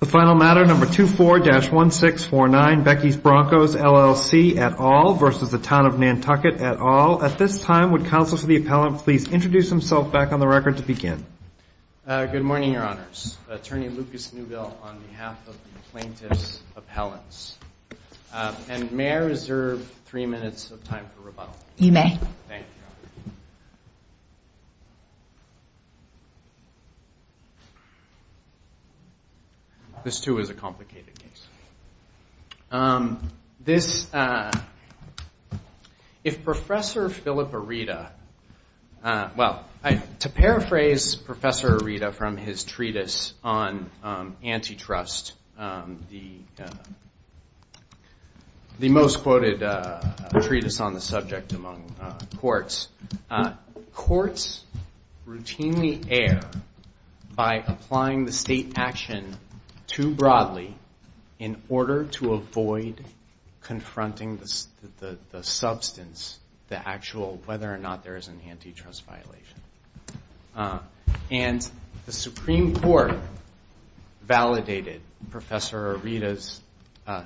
The final matter, number 24-1649, Becky's Broncos, LLC, et al. versus the Town of Nantucket, et al. At this time, would counsel for the appellant please introduce himself back on the record to begin? Good morning, Your Honors. Attorney Lucas Newbill on behalf of the plaintiff's appellants. And may I reserve three minutes of time for rebuttal? You may. Thank you. This too is a complicated case. If Professor Philip Arita, well, to paraphrase Professor Arita from his treatise on antitrust, the most quoted treatise on the subject among courts, courts routinely err by applying the state action too broadly in order to avoid confronting the substance, the actual, whether or not there is an antitrust violation. And the Supreme Court validated Professor Arita's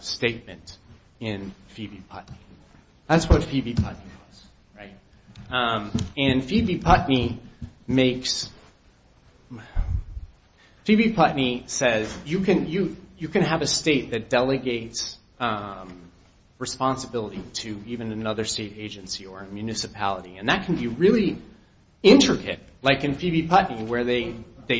statement in Phoebe Putnam. That's what Phoebe Putnam was, right? And Phoebe Putnam says you can have a state that delegates responsibility to even another state agency or municipality. And that can be really intricate, like in Phoebe Putnam where they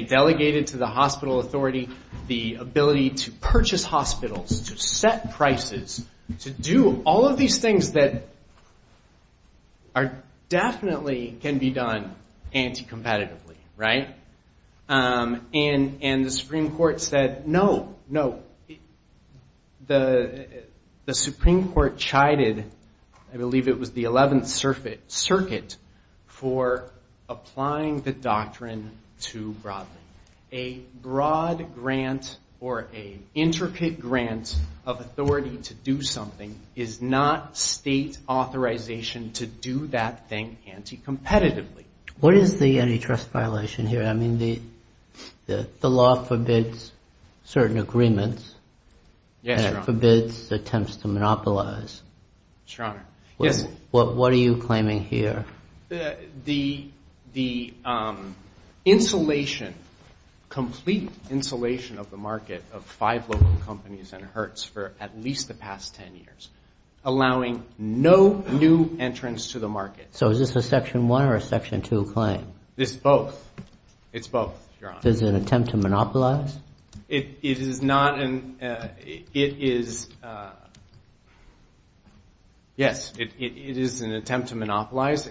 delegated to the hospital authority the ability to purchase hospitals, to set prices, to do all of these things that are definitely can be done anti-competitively, right? And the Supreme Court said no, no. The Supreme Court chided, I believe it was the 11th Circuit, for applying the doctrine too broadly. A broad grant or an intricate grant of authority to do something is not state authorization to do that thing anti-competitively. What is the antitrust violation here? I mean, the law forbids certain agreements. Yes, Your Honor. And it forbids attempts to monopolize. Your Honor, yes. What are you claiming here? The insulation, complete insulation of the market of five local companies and Hertz for at least the past 10 years, allowing no new entrance to the market. So is this a Section 1 or a Section 2 claim? This is both. It's both, Your Honor. Yes, it is an attempt to monopolize.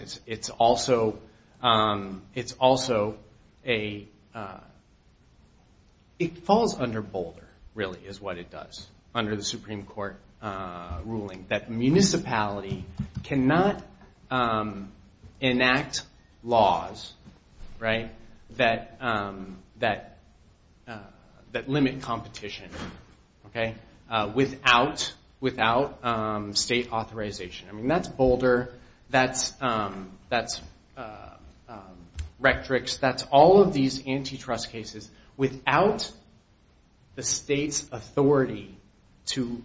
It falls under Boulder, really, is what it does, under the Supreme Court ruling, that municipality cannot enact laws that are not state authorized. That limit competition without state authorization. I mean, that's Boulder, that's Rectrix, that's all of these antitrust cases. Without the state's authority to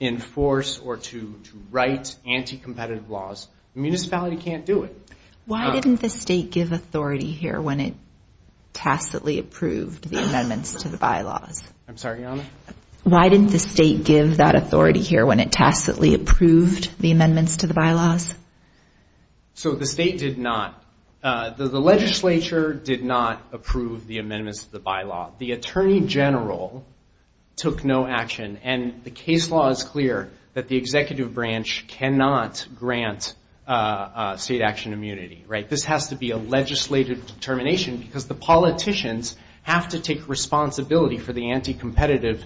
enforce or to write anti-competitive laws, the municipality can't do it. Why didn't the state give that authority here when it tacitly approved the amendments to the bylaws? So the state did not, the legislature did not approve the amendments to the bylaw. The Attorney General took no action, and the case law is clear that the executive branch cannot grant state action immunity. This has to be a legislative determination, because the politicians have to take responsibility for the anti-competitive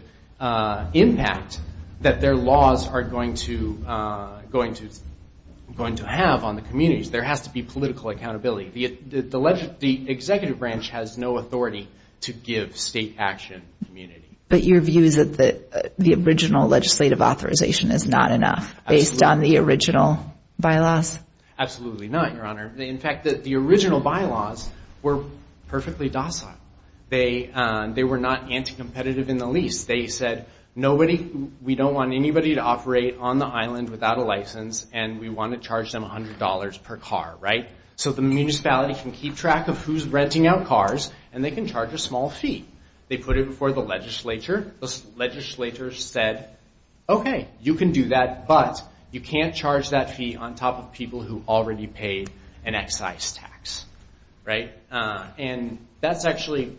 impact that their laws are going to have on the communities. There has to be political accountability. The executive branch has no authority to give state action immunity. But your view is that the original legislative authorization is not enough, based on the original bylaws? Absolutely not, Your Honor. In fact, the original bylaws were perfectly docile. They were not anti-competitive in the least. They said, we don't want anybody to operate on the island without a license, and we want to charge them $100 per car. So the municipality can keep track of who's renting out cars, and they can charge a small fee. They put it before the legislature. The legislature said, okay, you can do that, but you can't charge that fee on top of people who already paid an excise tax. And that's actually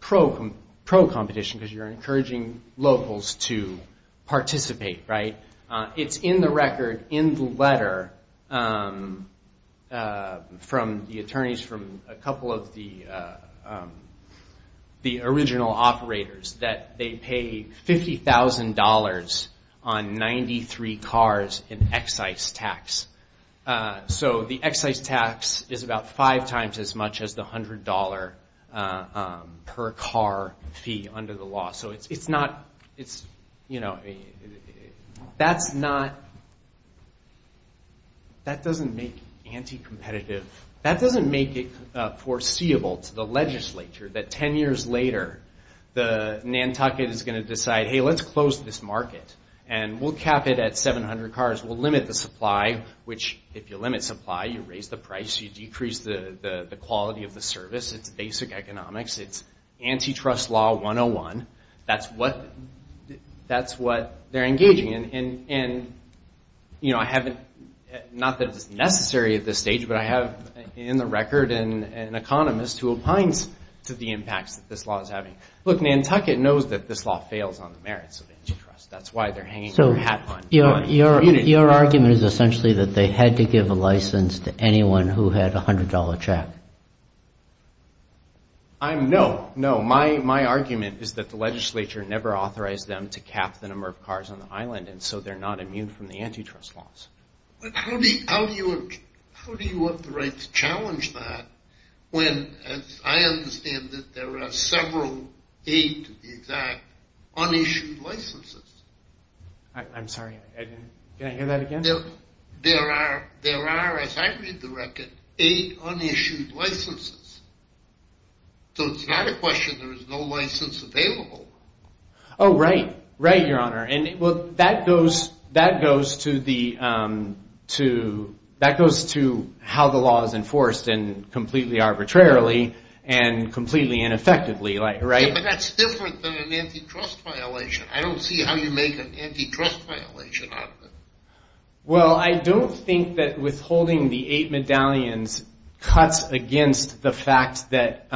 pro-competition, because you're encouraging locals to participate, right? It's in the record, in the letter, from the attorneys, from a couple of the original operators, that they pay $50,000 on 93 cars in excise tax. So the excise tax is about five times as much as the $100 per car fee under the law. That doesn't make anti-competitive. That doesn't make it foreseeable to the legislature that 10 years later, Nantucket is going to decide, hey, let's close this market, and we'll cap it at 700 cars. We'll limit the supply, which if you limit supply, you raise the price, you decrease the quality of the service. It's basic economics. It's antitrust law 101. That's what they're engaging in. And I haven't, not that it's necessary at this stage, but I have in the record an economist who opines to the impacts that this law is having. Look, Nantucket knows that this law fails on the merits of antitrust. That's why they're hanging their hat on. Your argument is essentially that they had to give a license to anyone who had a $100 check. No. My argument is that the legislature never authorized them to cap the number of cars on the island, and so they're not immune from the antitrust laws. How do you have the right to challenge that when, as I understand it, there are several, eight to be exact, unissued licenses? I'm sorry. Can I hear that again? There are, as I read the record, eight unissued licenses. So it's not a question there is no license available. Oh, right. Right, Your Honor. Well, that goes to how the law is enforced, and completely arbitrarily and completely ineffectively, right? Yeah, but that's different than an antitrust violation. I don't see how you make an antitrust violation out of it. Well, I don't think that withholding the eight medallions cuts against the fact that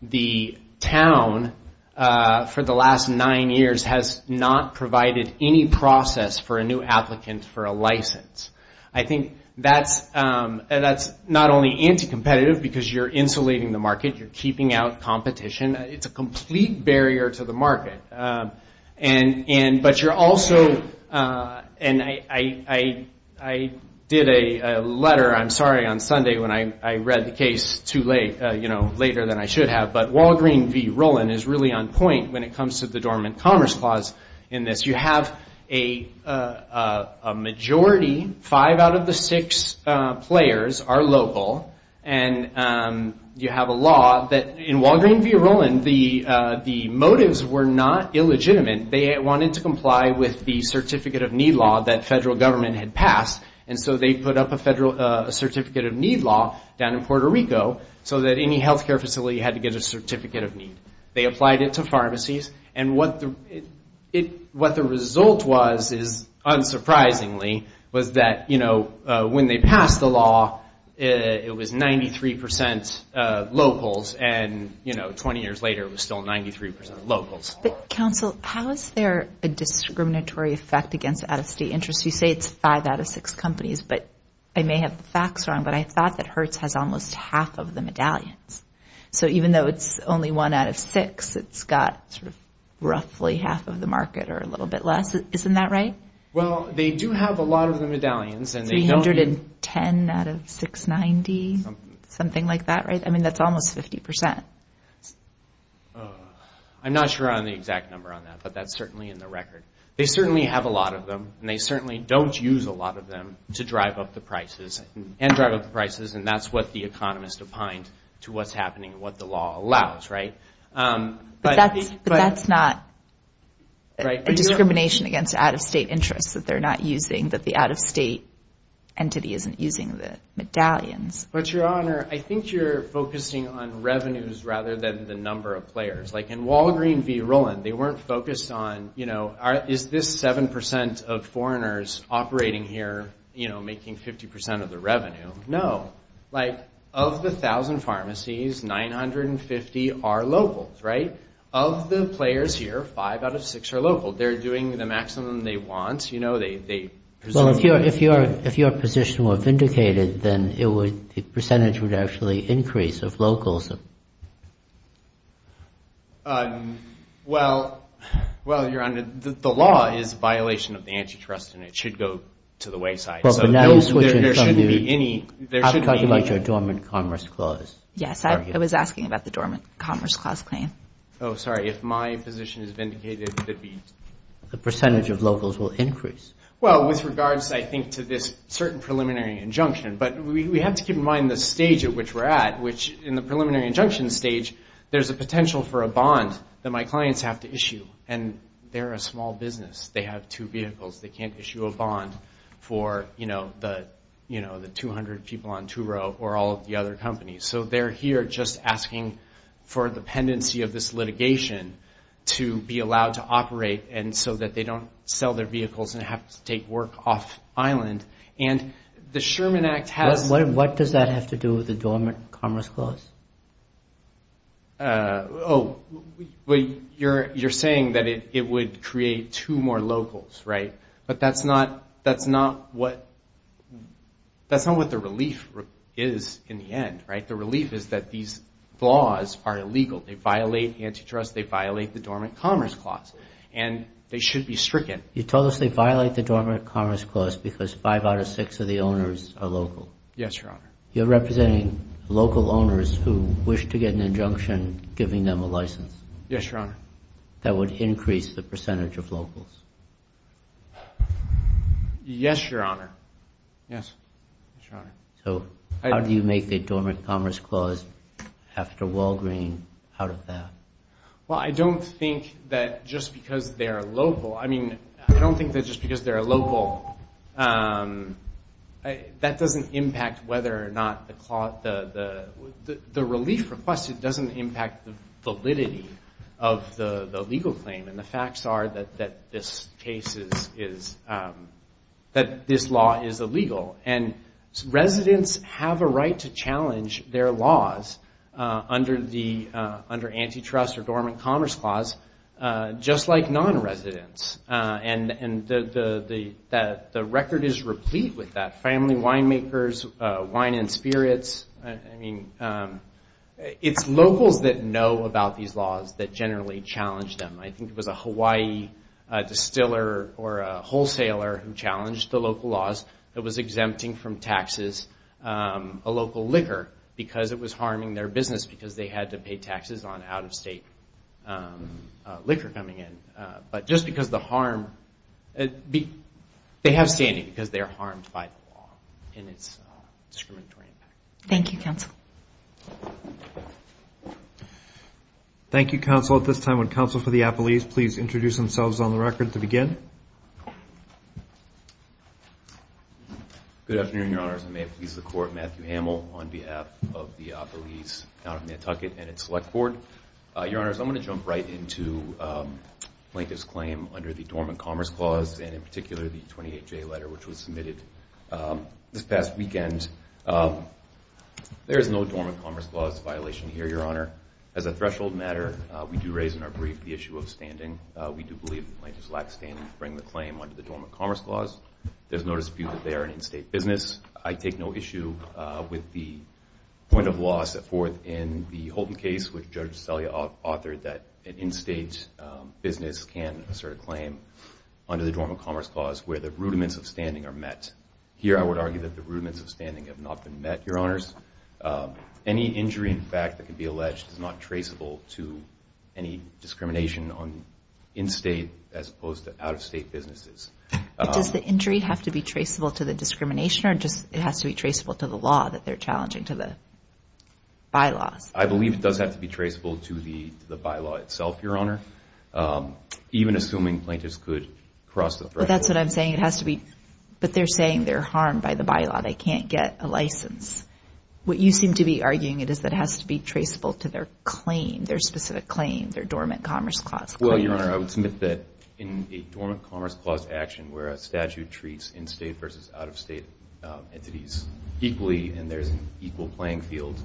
the town, for the last nine years, has not provided any process for a new applicant for a license. I think that's not only anti-competitive, because you're insulating the market, you're keeping out competition. It's a complete barrier to the market. But you're also, and I did a letter, I'm sorry, on Sunday, when I read the case too late, later than I should have, but Walgreen v. Rowland is really on point when it comes to the Dormant Commerce Clause in this. You have a majority, five out of the six players are local, and you have a law that, in Walgreen v. Rowland, the motives were not illegitimate. They wanted to comply with the Certificate of Need law that federal government had passed, and so they put up a Certificate of Need law down in Puerto Rico, so that any health care facility had to get a Certificate of Need. They applied it to pharmacies, and what the result was, unsurprisingly, was that when they passed the law, it was 93 percent locals, and 20 years later, it was still 93 percent locals. But, counsel, how is there a discriminatory effect against out-of-state interests? You say it's five out of six companies, but I may have the facts wrong, but I thought that Hertz has almost half of the medallions. So even though it's only one out of six, it's got roughly half of the market or a little bit less. Isn't that right? Well, they do have a lot of the medallions. 310 out of 690, something like that, right? I mean, that's almost 50 percent. I'm not sure on the exact number on that, but that's certainly in the record. They certainly have a lot of them, and they certainly don't use a lot of them to drive up the prices and that's what the economist opined to what's happening and what the law allows, right? But that's not a discrimination against out-of-state interests that they're not using, that the out-of-state entity isn't using the medallions. But, Your Honor, I think you're focusing on revenues rather than the number of players. Like in Walgreen v. Roland, they weren't focused on, you know, is this 7 percent of foreigners operating here making 50 percent of the revenue? No. Like, of the 1,000 pharmacies, 950 are locals, right? Of the players here, five out of six are local. They're doing the maximum they want. Well, if your position were vindicated, then the percentage would actually increase of locals. Well, Your Honor, the law is a violation of the antitrust, and it should go to the wayside. I'm talking about your dormant commerce clause. Yes, I was asking about the dormant commerce clause claim. Oh, sorry. If my position is vindicated, it would be? The percentage of locals will increase. Well, with regards, I think, to this certain preliminary injunction. But we have to keep in mind the stage at which we're at, which in the preliminary injunction stage, there's a potential for a bond that my clients have to issue. And they're a small business. They have two vehicles. They can't issue a bond for, you know, the 200 people on Turo or all of the other companies. So they're here just asking for the pendency of this litigation to be allowed to operate so that they don't sell their vehicles and have to take work off island. And the Sherman Act has... What does that have to do with the dormant commerce clause? Oh, you're saying that it would create two more locals, right? But that's not what the relief is in the end, right? The relief is that these laws are illegal. They violate antitrust. They violate the dormant commerce clause. And they should be stricken. You told us they violate the dormant commerce clause because five out of six of the owners are local. Yes, Your Honor. You're representing local owners who wish to get an injunction giving them a license? Yes, Your Honor. Well, I don't think that just because they're local... That doesn't impact whether or not the... The relief requested doesn't impact the validity of the legal claim. And the facts are that this case is... That this law is illegal. And residents have a right to challenge their laws under antitrust or dormant commerce clause, just like non-residents. And the record is replete with that. Family winemakers, wine and spirits. It's locals that know about these laws that generally challenge them. I think it was a Hawaii distiller or a wholesaler who challenged the local laws that was exempting from taxes a local liquor because it was harming their business because they had to pay taxes on out-of-state liquor coming in. But just because the harm... They have standing because they're harmed by the law in its discriminatory impact. Thank you, Counsel. Thank you, Counsel. At this time, would Counsel for the Appellees please introduce themselves on the record to begin? Good afternoon, Your Honors. I'm Matthew Hamill on behalf of the Appellees out of Nantucket and its Select Board. Your Honors, I'm going to jump right into Plaintiff's claim under the dormant commerce clause and in particular the 28-J letter which was submitted this past weekend. There is no dormant commerce clause violation here, Your Honor. As a threshold matter, we do raise in our brief the issue of standing. We do believe that plaintiffs lack standing to bring the claim under the dormant commerce clause. There's no dispute that they are an in-state business. I take no issue with the point of loss at forth in the Holton case, which Judge Celia authored that an in-state business can assert a claim under the dormant commerce clause where the rudiments of standing are met. Here I would argue that the rudiments of standing have not been met, Your Honors. Any injury in fact that can be alleged is not traceable to any discrimination on in-state as opposed to out-of-state businesses. Does the injury have to be traceable to the discrimination or just it has to be traceable to the law that they're challenging to the bylaws? I believe it does have to be traceable to the bylaw itself, Your Honor, even assuming plaintiffs could cross the threshold. But they're saying they're harmed by the bylaw, they can't get a license. What you seem to be arguing is that it has to be traceable to their claim, their specific claim, their dormant commerce clause claim. Well, Your Honor, I would submit that in a dormant commerce clause action where a statute treats in-state versus out-of-state entities equally and there's an equal playing field,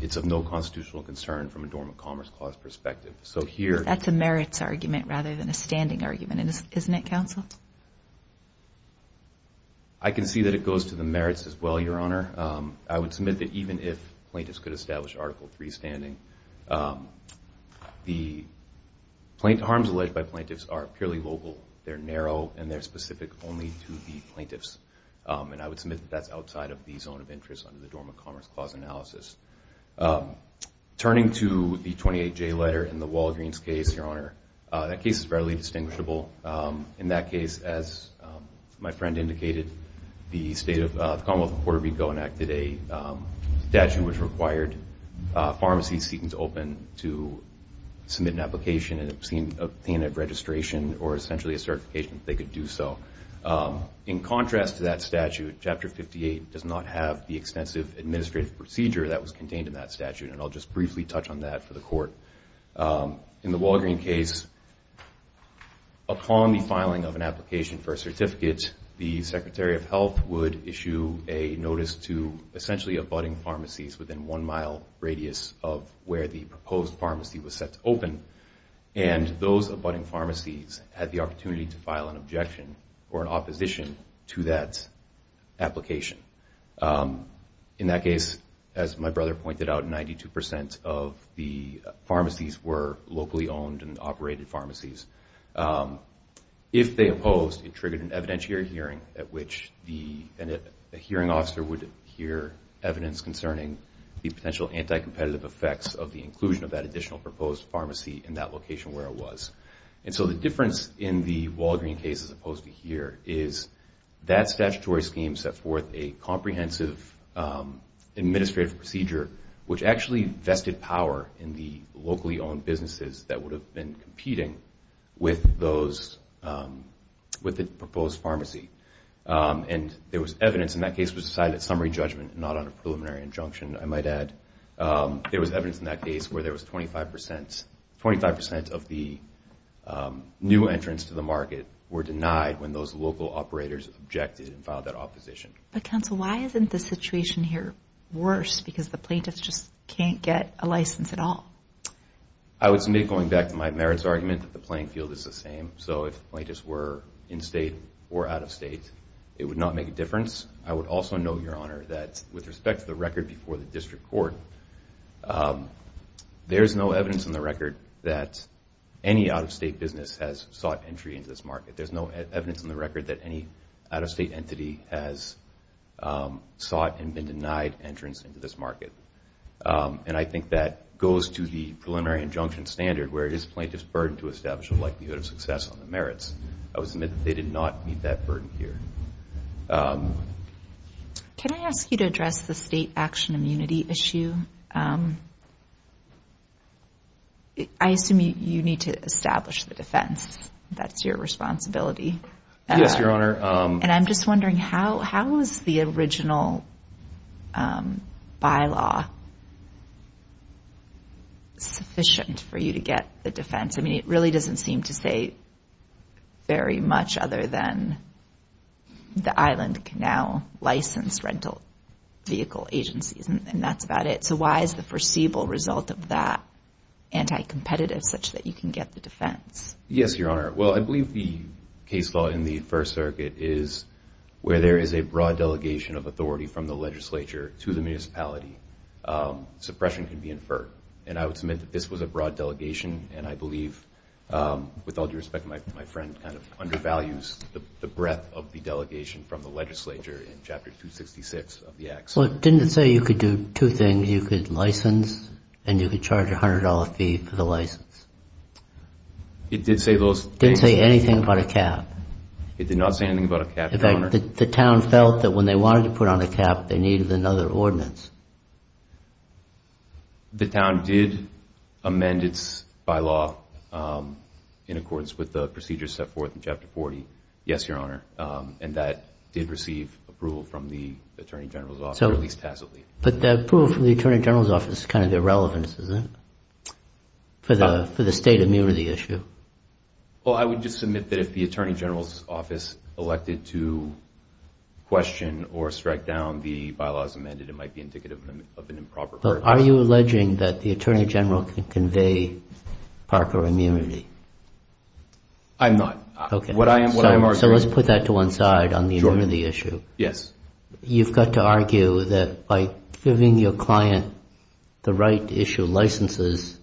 it's of no constitutional concern from a dormant commerce clause perspective. That's a merits argument rather than a standing argument, isn't it, counsel? I can see that it goes to the merits as well, Your Honor. I would submit that even if plaintiffs could establish Article III standing, the harms alleged by plaintiffs are purely local. They're narrow and they're specific only to the plaintiffs. And I would submit that that's outside of the zone of interest under the dormant commerce clause analysis. Turning to the 28J letter in the Walgreens case, Your Honor, that case is readily distinguishable. In that case, as my friend indicated, the Commonwealth of Puerto Rico enacted a statute in which required pharmacies seeking to open to submit an application and obtain a registration or essentially a certification if they could do so. In contrast to that statute, Chapter 58 does not have the extensive administrative procedure that was contained in that statute, and I'll just briefly touch on that for the Court. In the Walgreens case, upon the filing of an application for a certificate, the Secretary of Health would issue a notice to essentially abutting pharmacies within one mile radius of where the proposed pharmacy was set to open, and those abutting pharmacies had the opportunity to file an objection or an opposition to that application. In that case, as my brother pointed out, 92 percent of the pharmacies were locally owned and operated pharmacies. If they opposed, it triggered an evidentiary hearing at which a hearing officer would hear evidence concerning the potential anti-competitive effects of the inclusion of that additional proposed pharmacy in that location where it was. And so the difference in the Walgreens case as opposed to here is that statutory scheme set forth a comprehensive administrative procedure, which actually vested power in the locally owned businesses that would have been competing with the proposed pharmacy. And there was evidence in that case that was decided at summary judgment and not on a preliminary injunction, I might add. There was evidence in that case where there was 25 percent of the new entrants to the market were denied when those local operators objected and filed that opposition. But, counsel, why isn't the situation here worse because the plaintiffs just can't get a license at all? I would submit, going back to my merits argument, that the playing field is the same. So if the plaintiffs were in-state or out-of-state, it would not make a difference. I would also note, Your Honor, that with respect to the record before the District Court, there's no evidence in the record that any out-of-state business has sought entry into this market. There's no evidence in the record that any out-of-state entity has sought and been denied entrance into this market. And I think that goes to the preliminary injunction standard where it is plaintiff's burden to establish a likelihood of success on the merits. I would submit that they did not meet that burden here. Can I ask you to address the state action immunity issue? I assume you need to establish the defense. That's your responsibility. Yes, Your Honor. And I'm just wondering, how is the original bylaw sufficient for you to get the defense? I mean, it really doesn't seem to say very much other than the Island Canal Licensed Rental Vehicle Agencies, and that's about it. So why is the foreseeable result of that anti-competitive such that you can get the defense? Yes, Your Honor. Well, I believe the case law in the First Circuit is where there is a broad delegation of authority from the legislature to the municipality. Suppression can be inferred. And I would submit that this was a broad delegation, and I believe, with all due respect to my friend, kind of undervalues the breadth of the delegation from the legislature in Chapter 266 of the Act. Well, didn't it say you could do two things, you could license and you could charge a $100 fee for the license? It did say those things. It didn't say anything about a cap? It did not say anything about a cap, Your Honor. In fact, the town felt that when they wanted to put on a cap, they needed another ordinance. The town did amend its bylaw in accordance with the procedures set forth in Chapter 40, yes, Your Honor. And that did receive approval from the Attorney General's Office, or at least tacitly. But the approval from the Attorney General's Office is kind of irrelevant, isn't it, for the state immunity issue? Well, I would just submit that if the Attorney General's Office elected to question or strike down the bylaws amended, it might be indicative of an improper purpose. But are you alleging that the Attorney General can convey Parker immunity? I'm not. So let's put that to one side on the immunity issue. You've got to argue that by giving your client the right to issue licenses,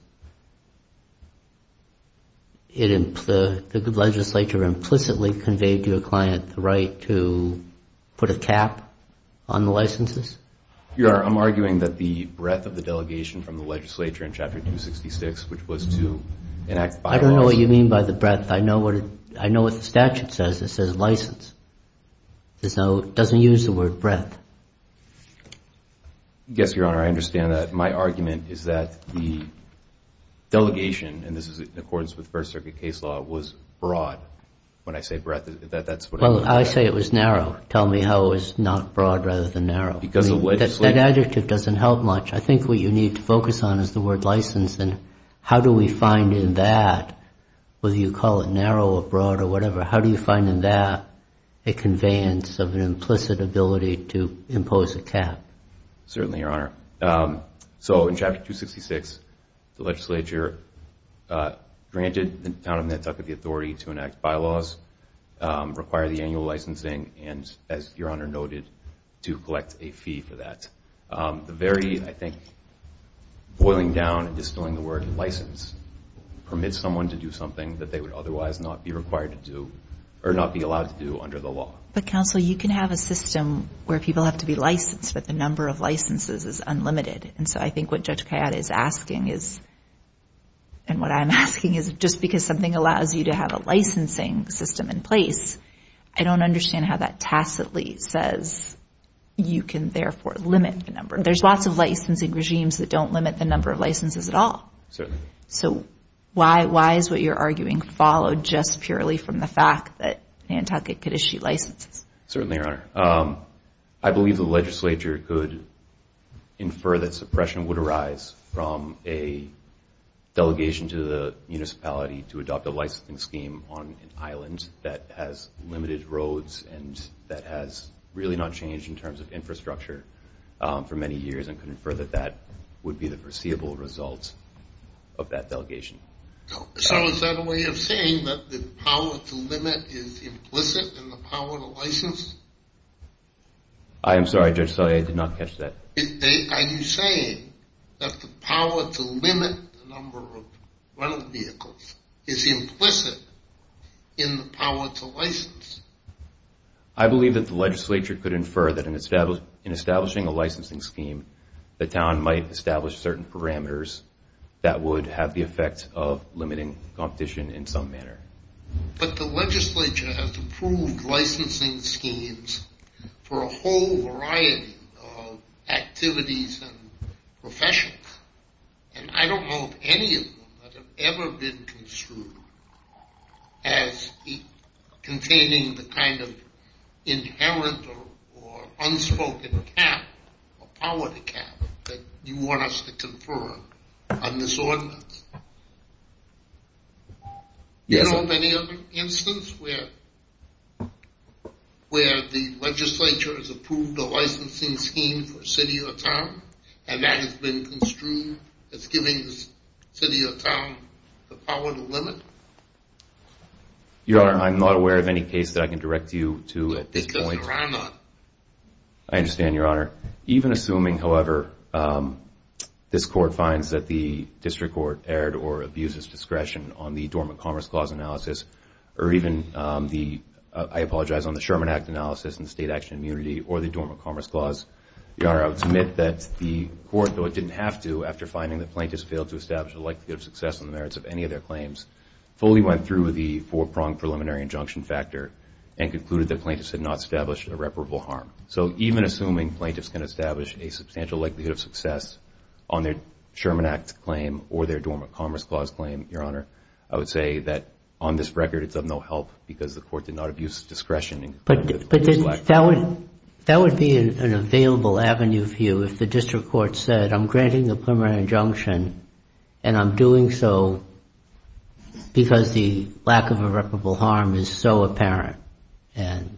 the legislature implicitly conveyed to your client the right to put a cap on the licenses? Your Honor, I'm arguing that the breadth of the delegation from the legislature in Chapter 266, which was to enact bylaws. I don't know what you mean by the breadth. I know what the statute says. It says license. It doesn't use the word breadth. Yes, Your Honor, I understand that. My argument is that the delegation, and this is in accordance with First Circuit case law, was broad when I say breadth. Well, I say it was narrow. Tell me how it was not broad rather than narrow. That adjective doesn't help much. I think what you need to focus on is the word license, and how do we find in that, whether you call it narrow or broad or whatever, how do you find in that a conveyance of an implicit ability to impose a cap? So in Chapter 266, the legislature granted the town of Nantucket the authority to enact bylaws, require the annual licensing, and, as Your Honor noted, to collect a fee for that. The very, I think, boiling down and dispelling the word license permits someone to do something that they would otherwise not be required to do or not be allowed to do under the law. But, counsel, you can have a system where people have to be licensed, but the number of licenses is unlimited. And so I think what Judge Kayette is asking is, and what I'm asking is, just because something allows you to have a licensing system in place, I don't understand how that tacitly says you can, therefore, limit the number. There's lots of licensing regimes that don't limit the number of licenses at all. So why is what you're arguing followed just purely from the fact that Nantucket could issue licenses? Certainly, Your Honor. I believe the legislature could infer that suppression would arise from a delegation to the municipality to adopt a licensing scheme on an island that has limited roads and that has really not changed in terms of infrastructure for many years and could infer that that would be the foreseeable result of that delegation. So is that a way of saying that the power to limit is implicit in the power to license? I am sorry, Judge, I did not catch that. Are you saying that the power to limit the number of vehicles is implicit in the power to license? I believe that the legislature could infer that in establishing a licensing scheme, the town might establish certain parameters that would have the effect of limiting competition in some manner. But the legislature has approved licensing schemes for a whole variety of activities and professions, and I don't know of any of them that have ever been construed as containing the kind of inherent or unspoken cap of politics. Do you know of any other instance where the legislature has approved a licensing scheme for a city or town and that has been construed as giving the city or town the power to limit? Your Honor, I am not aware of any case that I can direct you to at this point. I understand, Your Honor. Even assuming, however, this Court finds that the District Court erred or abuses discretion on the Dormant Commerce Clause analysis, or even the, I apologize, on the Sherman Act analysis and state action immunity or the Dormant Commerce Clause, Your Honor, I would submit that the Court, though it didn't have to after finding that plaintiffs failed to establish a likelihood of success on the merits of any of their claims, fully went through the four-pronged preliminary injunction factor and concluded that plaintiffs had not established irreparable harm. So even assuming plaintiffs can establish a substantial likelihood of success on their Sherman Act claim or their Dormant Commerce Clause claim, Your Honor, I would say that on this record it's of no help because the Court did not abuse discretion. But that would be an available avenue for you if the District Court said, I'm granting the preliminary injunction and I'm doing so because the lack of irreparable harm is so apparent and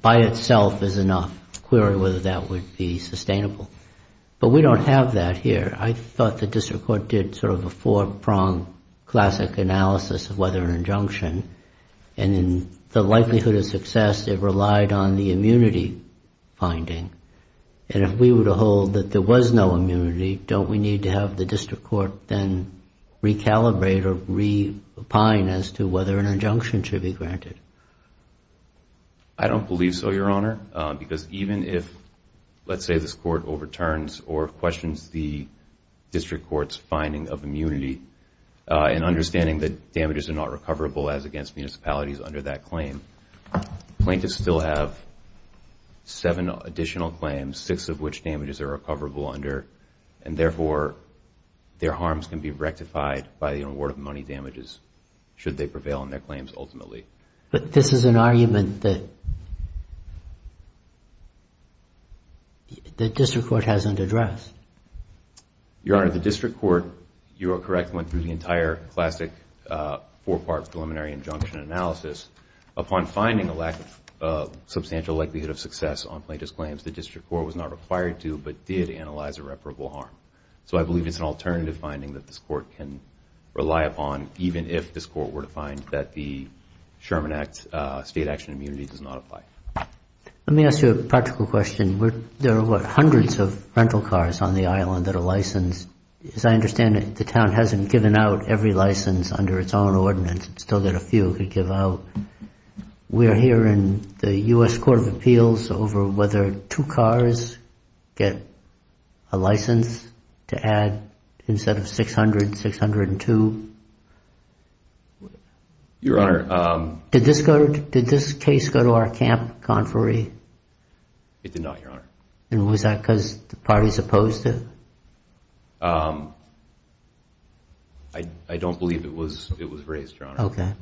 by itself is enough to query whether that would be sustainable. But we don't have that here. I thought the District Court did sort of a four-pronged classic analysis of whether an injunction and the likelihood of success, it relied on the immunity finding. And if we were to hold that there was no immunity, don't we need to have the District Court then recalibrate or re-opine as to whether an injunction should be granted? I don't believe so, Your Honor, because even if, let's say this Court overturns or questions the District Court's finding of immunity and understanding that damages are not recoverable as against municipalities under that claim, plaintiffs still have seven additional claims, six of which damages are recoverable under, and therefore their harms can be rectified by the award of money damages should they prevail on their claims ultimately. But this is an argument that the District Court hasn't addressed. Your Honor, the District Court, you are correct, went through the entire classic four-part preliminary injunction analysis. Upon finding a lack of substantial likelihood of success on plaintiff's claims, the District Court was not required to but did analyze irreparable harm. So I believe it's an alternative finding that this Court can rely upon even if this Court were to find that the Sherman Act state action immunity does not apply. Let me ask you a practical question. There are, what, hundreds of rental cars on the island that are licensed. As I understand it, the town hasn't given out every license under its own ordinance. It's still got a few it could give out. We are hearing the U.S. Court of Appeals over whether two cars get a license to add instead of 600, 602. Your Honor. Did this case go to our camp conferee? It did not, Your Honor. And was that because the parties opposed it? I don't believe it was raised, Your Honor,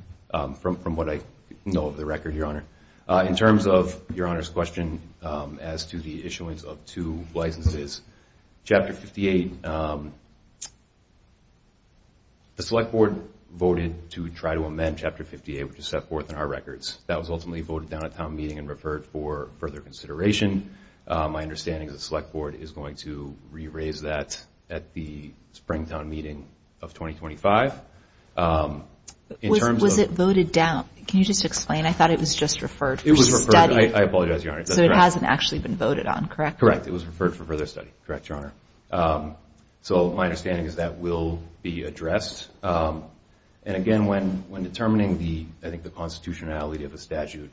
from what I know of the record, Your Honor. In terms of Your Honor's question as to the issuance of two licenses, Chapter 58, the Select Board voted to try to amend Chapter 58, which is set forth in our records. That was ultimately voted down at town meeting and referred for further consideration. My understanding is the Select Board is going to re-raise that at the Springtown meeting of 2025. Was it voted down? Can you just explain? I thought it was just referred for study. I apologize, Your Honor. So it hasn't actually been voted on, correct? Correct. It was referred for further study. Correct, Your Honor. And again, when determining the constitutionality of a statute,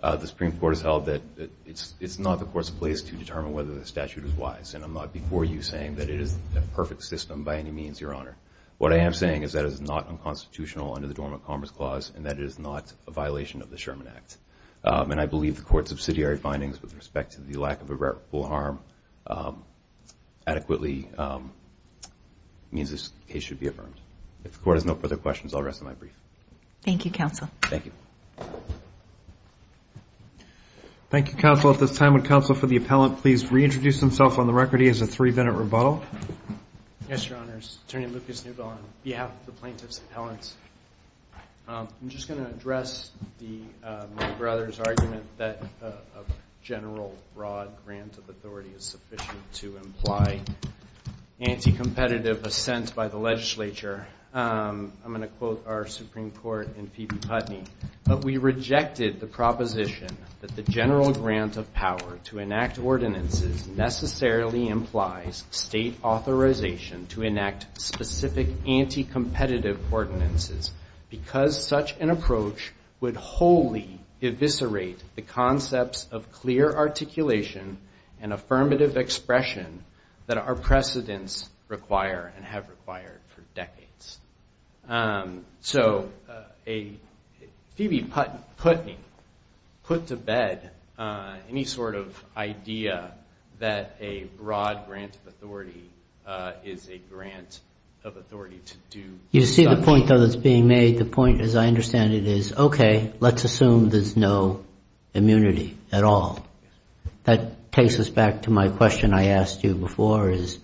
the Supreme Court has held that it's not the court's place to determine whether the statute is wise. And I'm not before you saying that it is a perfect system by any means, Your Honor. What I am saying is that it is not unconstitutional under the Dormant Commerce Clause and that it is not a violation of the Sherman Act. And I believe the Court's subsidiary findings with respect to the lack of a reputable harm adequately means this case should be affirmed. If the Court has no further questions, I'll rest my brief. Thank you, Counsel. At this time, would Counsel for the Appellant please reintroduce himself on the record? He has a three-minute rebuttal. Yes, Your Honors. Attorney Lucas Newbell on behalf of the Plaintiffs' Appellants. I'm just going to address my brother's argument that a general broad grant of authority is sufficient to imply anti-competitive assent by the legislature. I'm going to quote our Supreme Court in P.B. Putney. But we rejected the proposition that the general grant of power to enact ordinances necessarily implies state authorization to enact specific anti-competitive ordinances because such an approach would wholly eviscerate the concepts of clear articulation and affirmative expression that our precedents require and have required for decades. So P.B. Putney put to bed any sort of idea that a broad grant of authority is a grant of authority to do You see the point that's being made? The point, as I understand it, is okay, let's assume there's no immunity at all. That takes us back to my question I asked you before, is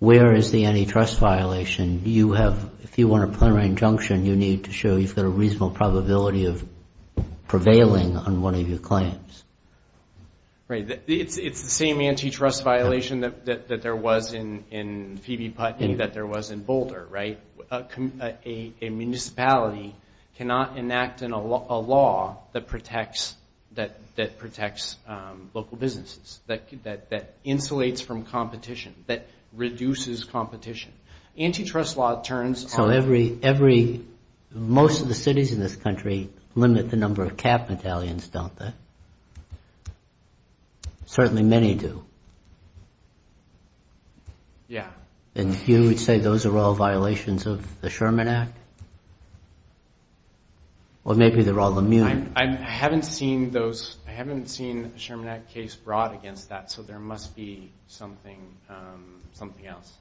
where is the antitrust violation? If you want a plenary injunction, you need to show you've got a reasonable probability of prevailing on one of your claims. Right. It's the same antitrust violation that there was in P.B. Putney that there was in Boulder, right? A municipality cannot enact a law that protects the rights of its citizens. That insulates from competition, that reduces competition. Antitrust law turns on... Most of the cities in this country limit the number of cab battalions, don't they? Certainly many do. And you would say those are all violations of the Sherman Act? Well, maybe they're all immune. I haven't seen a Sherman Act case brought against that, so there must be something else.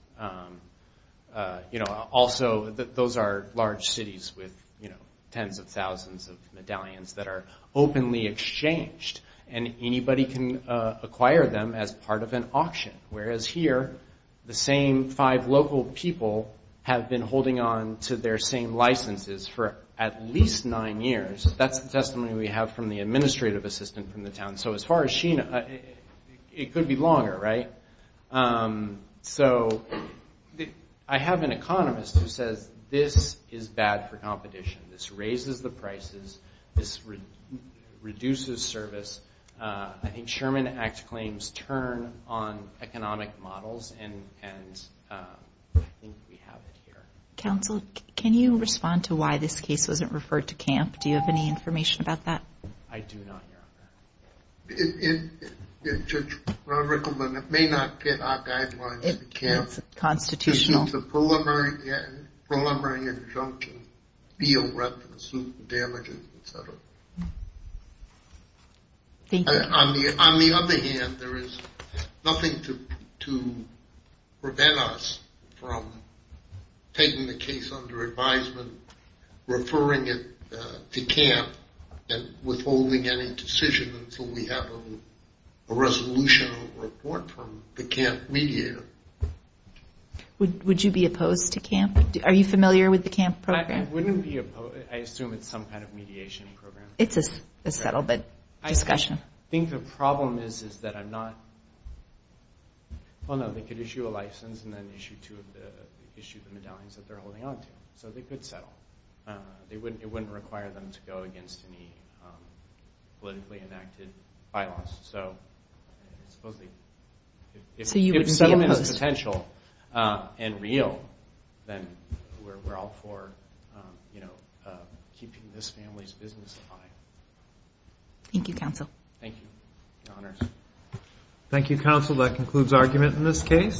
Also, those are large cities with tens of thousands of medallions that are openly exchanged. And anybody can acquire them as part of an auction. Whereas here, the same five local people have been holding on to their same licenses for at least nine years. That's the testimony we have from the administrative assistant from the town. So as far as she knows, it could be longer, right? I have an economist who says this is bad for competition. This raises the prices. This reduces service. I think Sherman Act claims turn on economic models, and I think we have it here. Counsel, can you respond to why this case wasn't referred to CAMP? Do you have any information about that? I do not, Your Honor. Judge Rickelman, it may not fit our guidelines at CAMP. It's constitutional. It's a preliminary injunction. Thank you. On the other hand, there is nothing to prevent us from taking the case under advisement, referring it to CAMP, and withholding any decision until we have a resolution report from the CAMP mediator. Would you be opposed to CAMP? Are you familiar with the CAMP program? I assume it's some kind of mediation program. I think the problem is that I'm not. Well, no, they could issue a license and then issue the medallions that they're holding onto, so they could settle. It wouldn't require them to go against any politically enacted bylaws. If settlement is potential and real, then we're all for keeping this family's business alive. Thank you, counsel.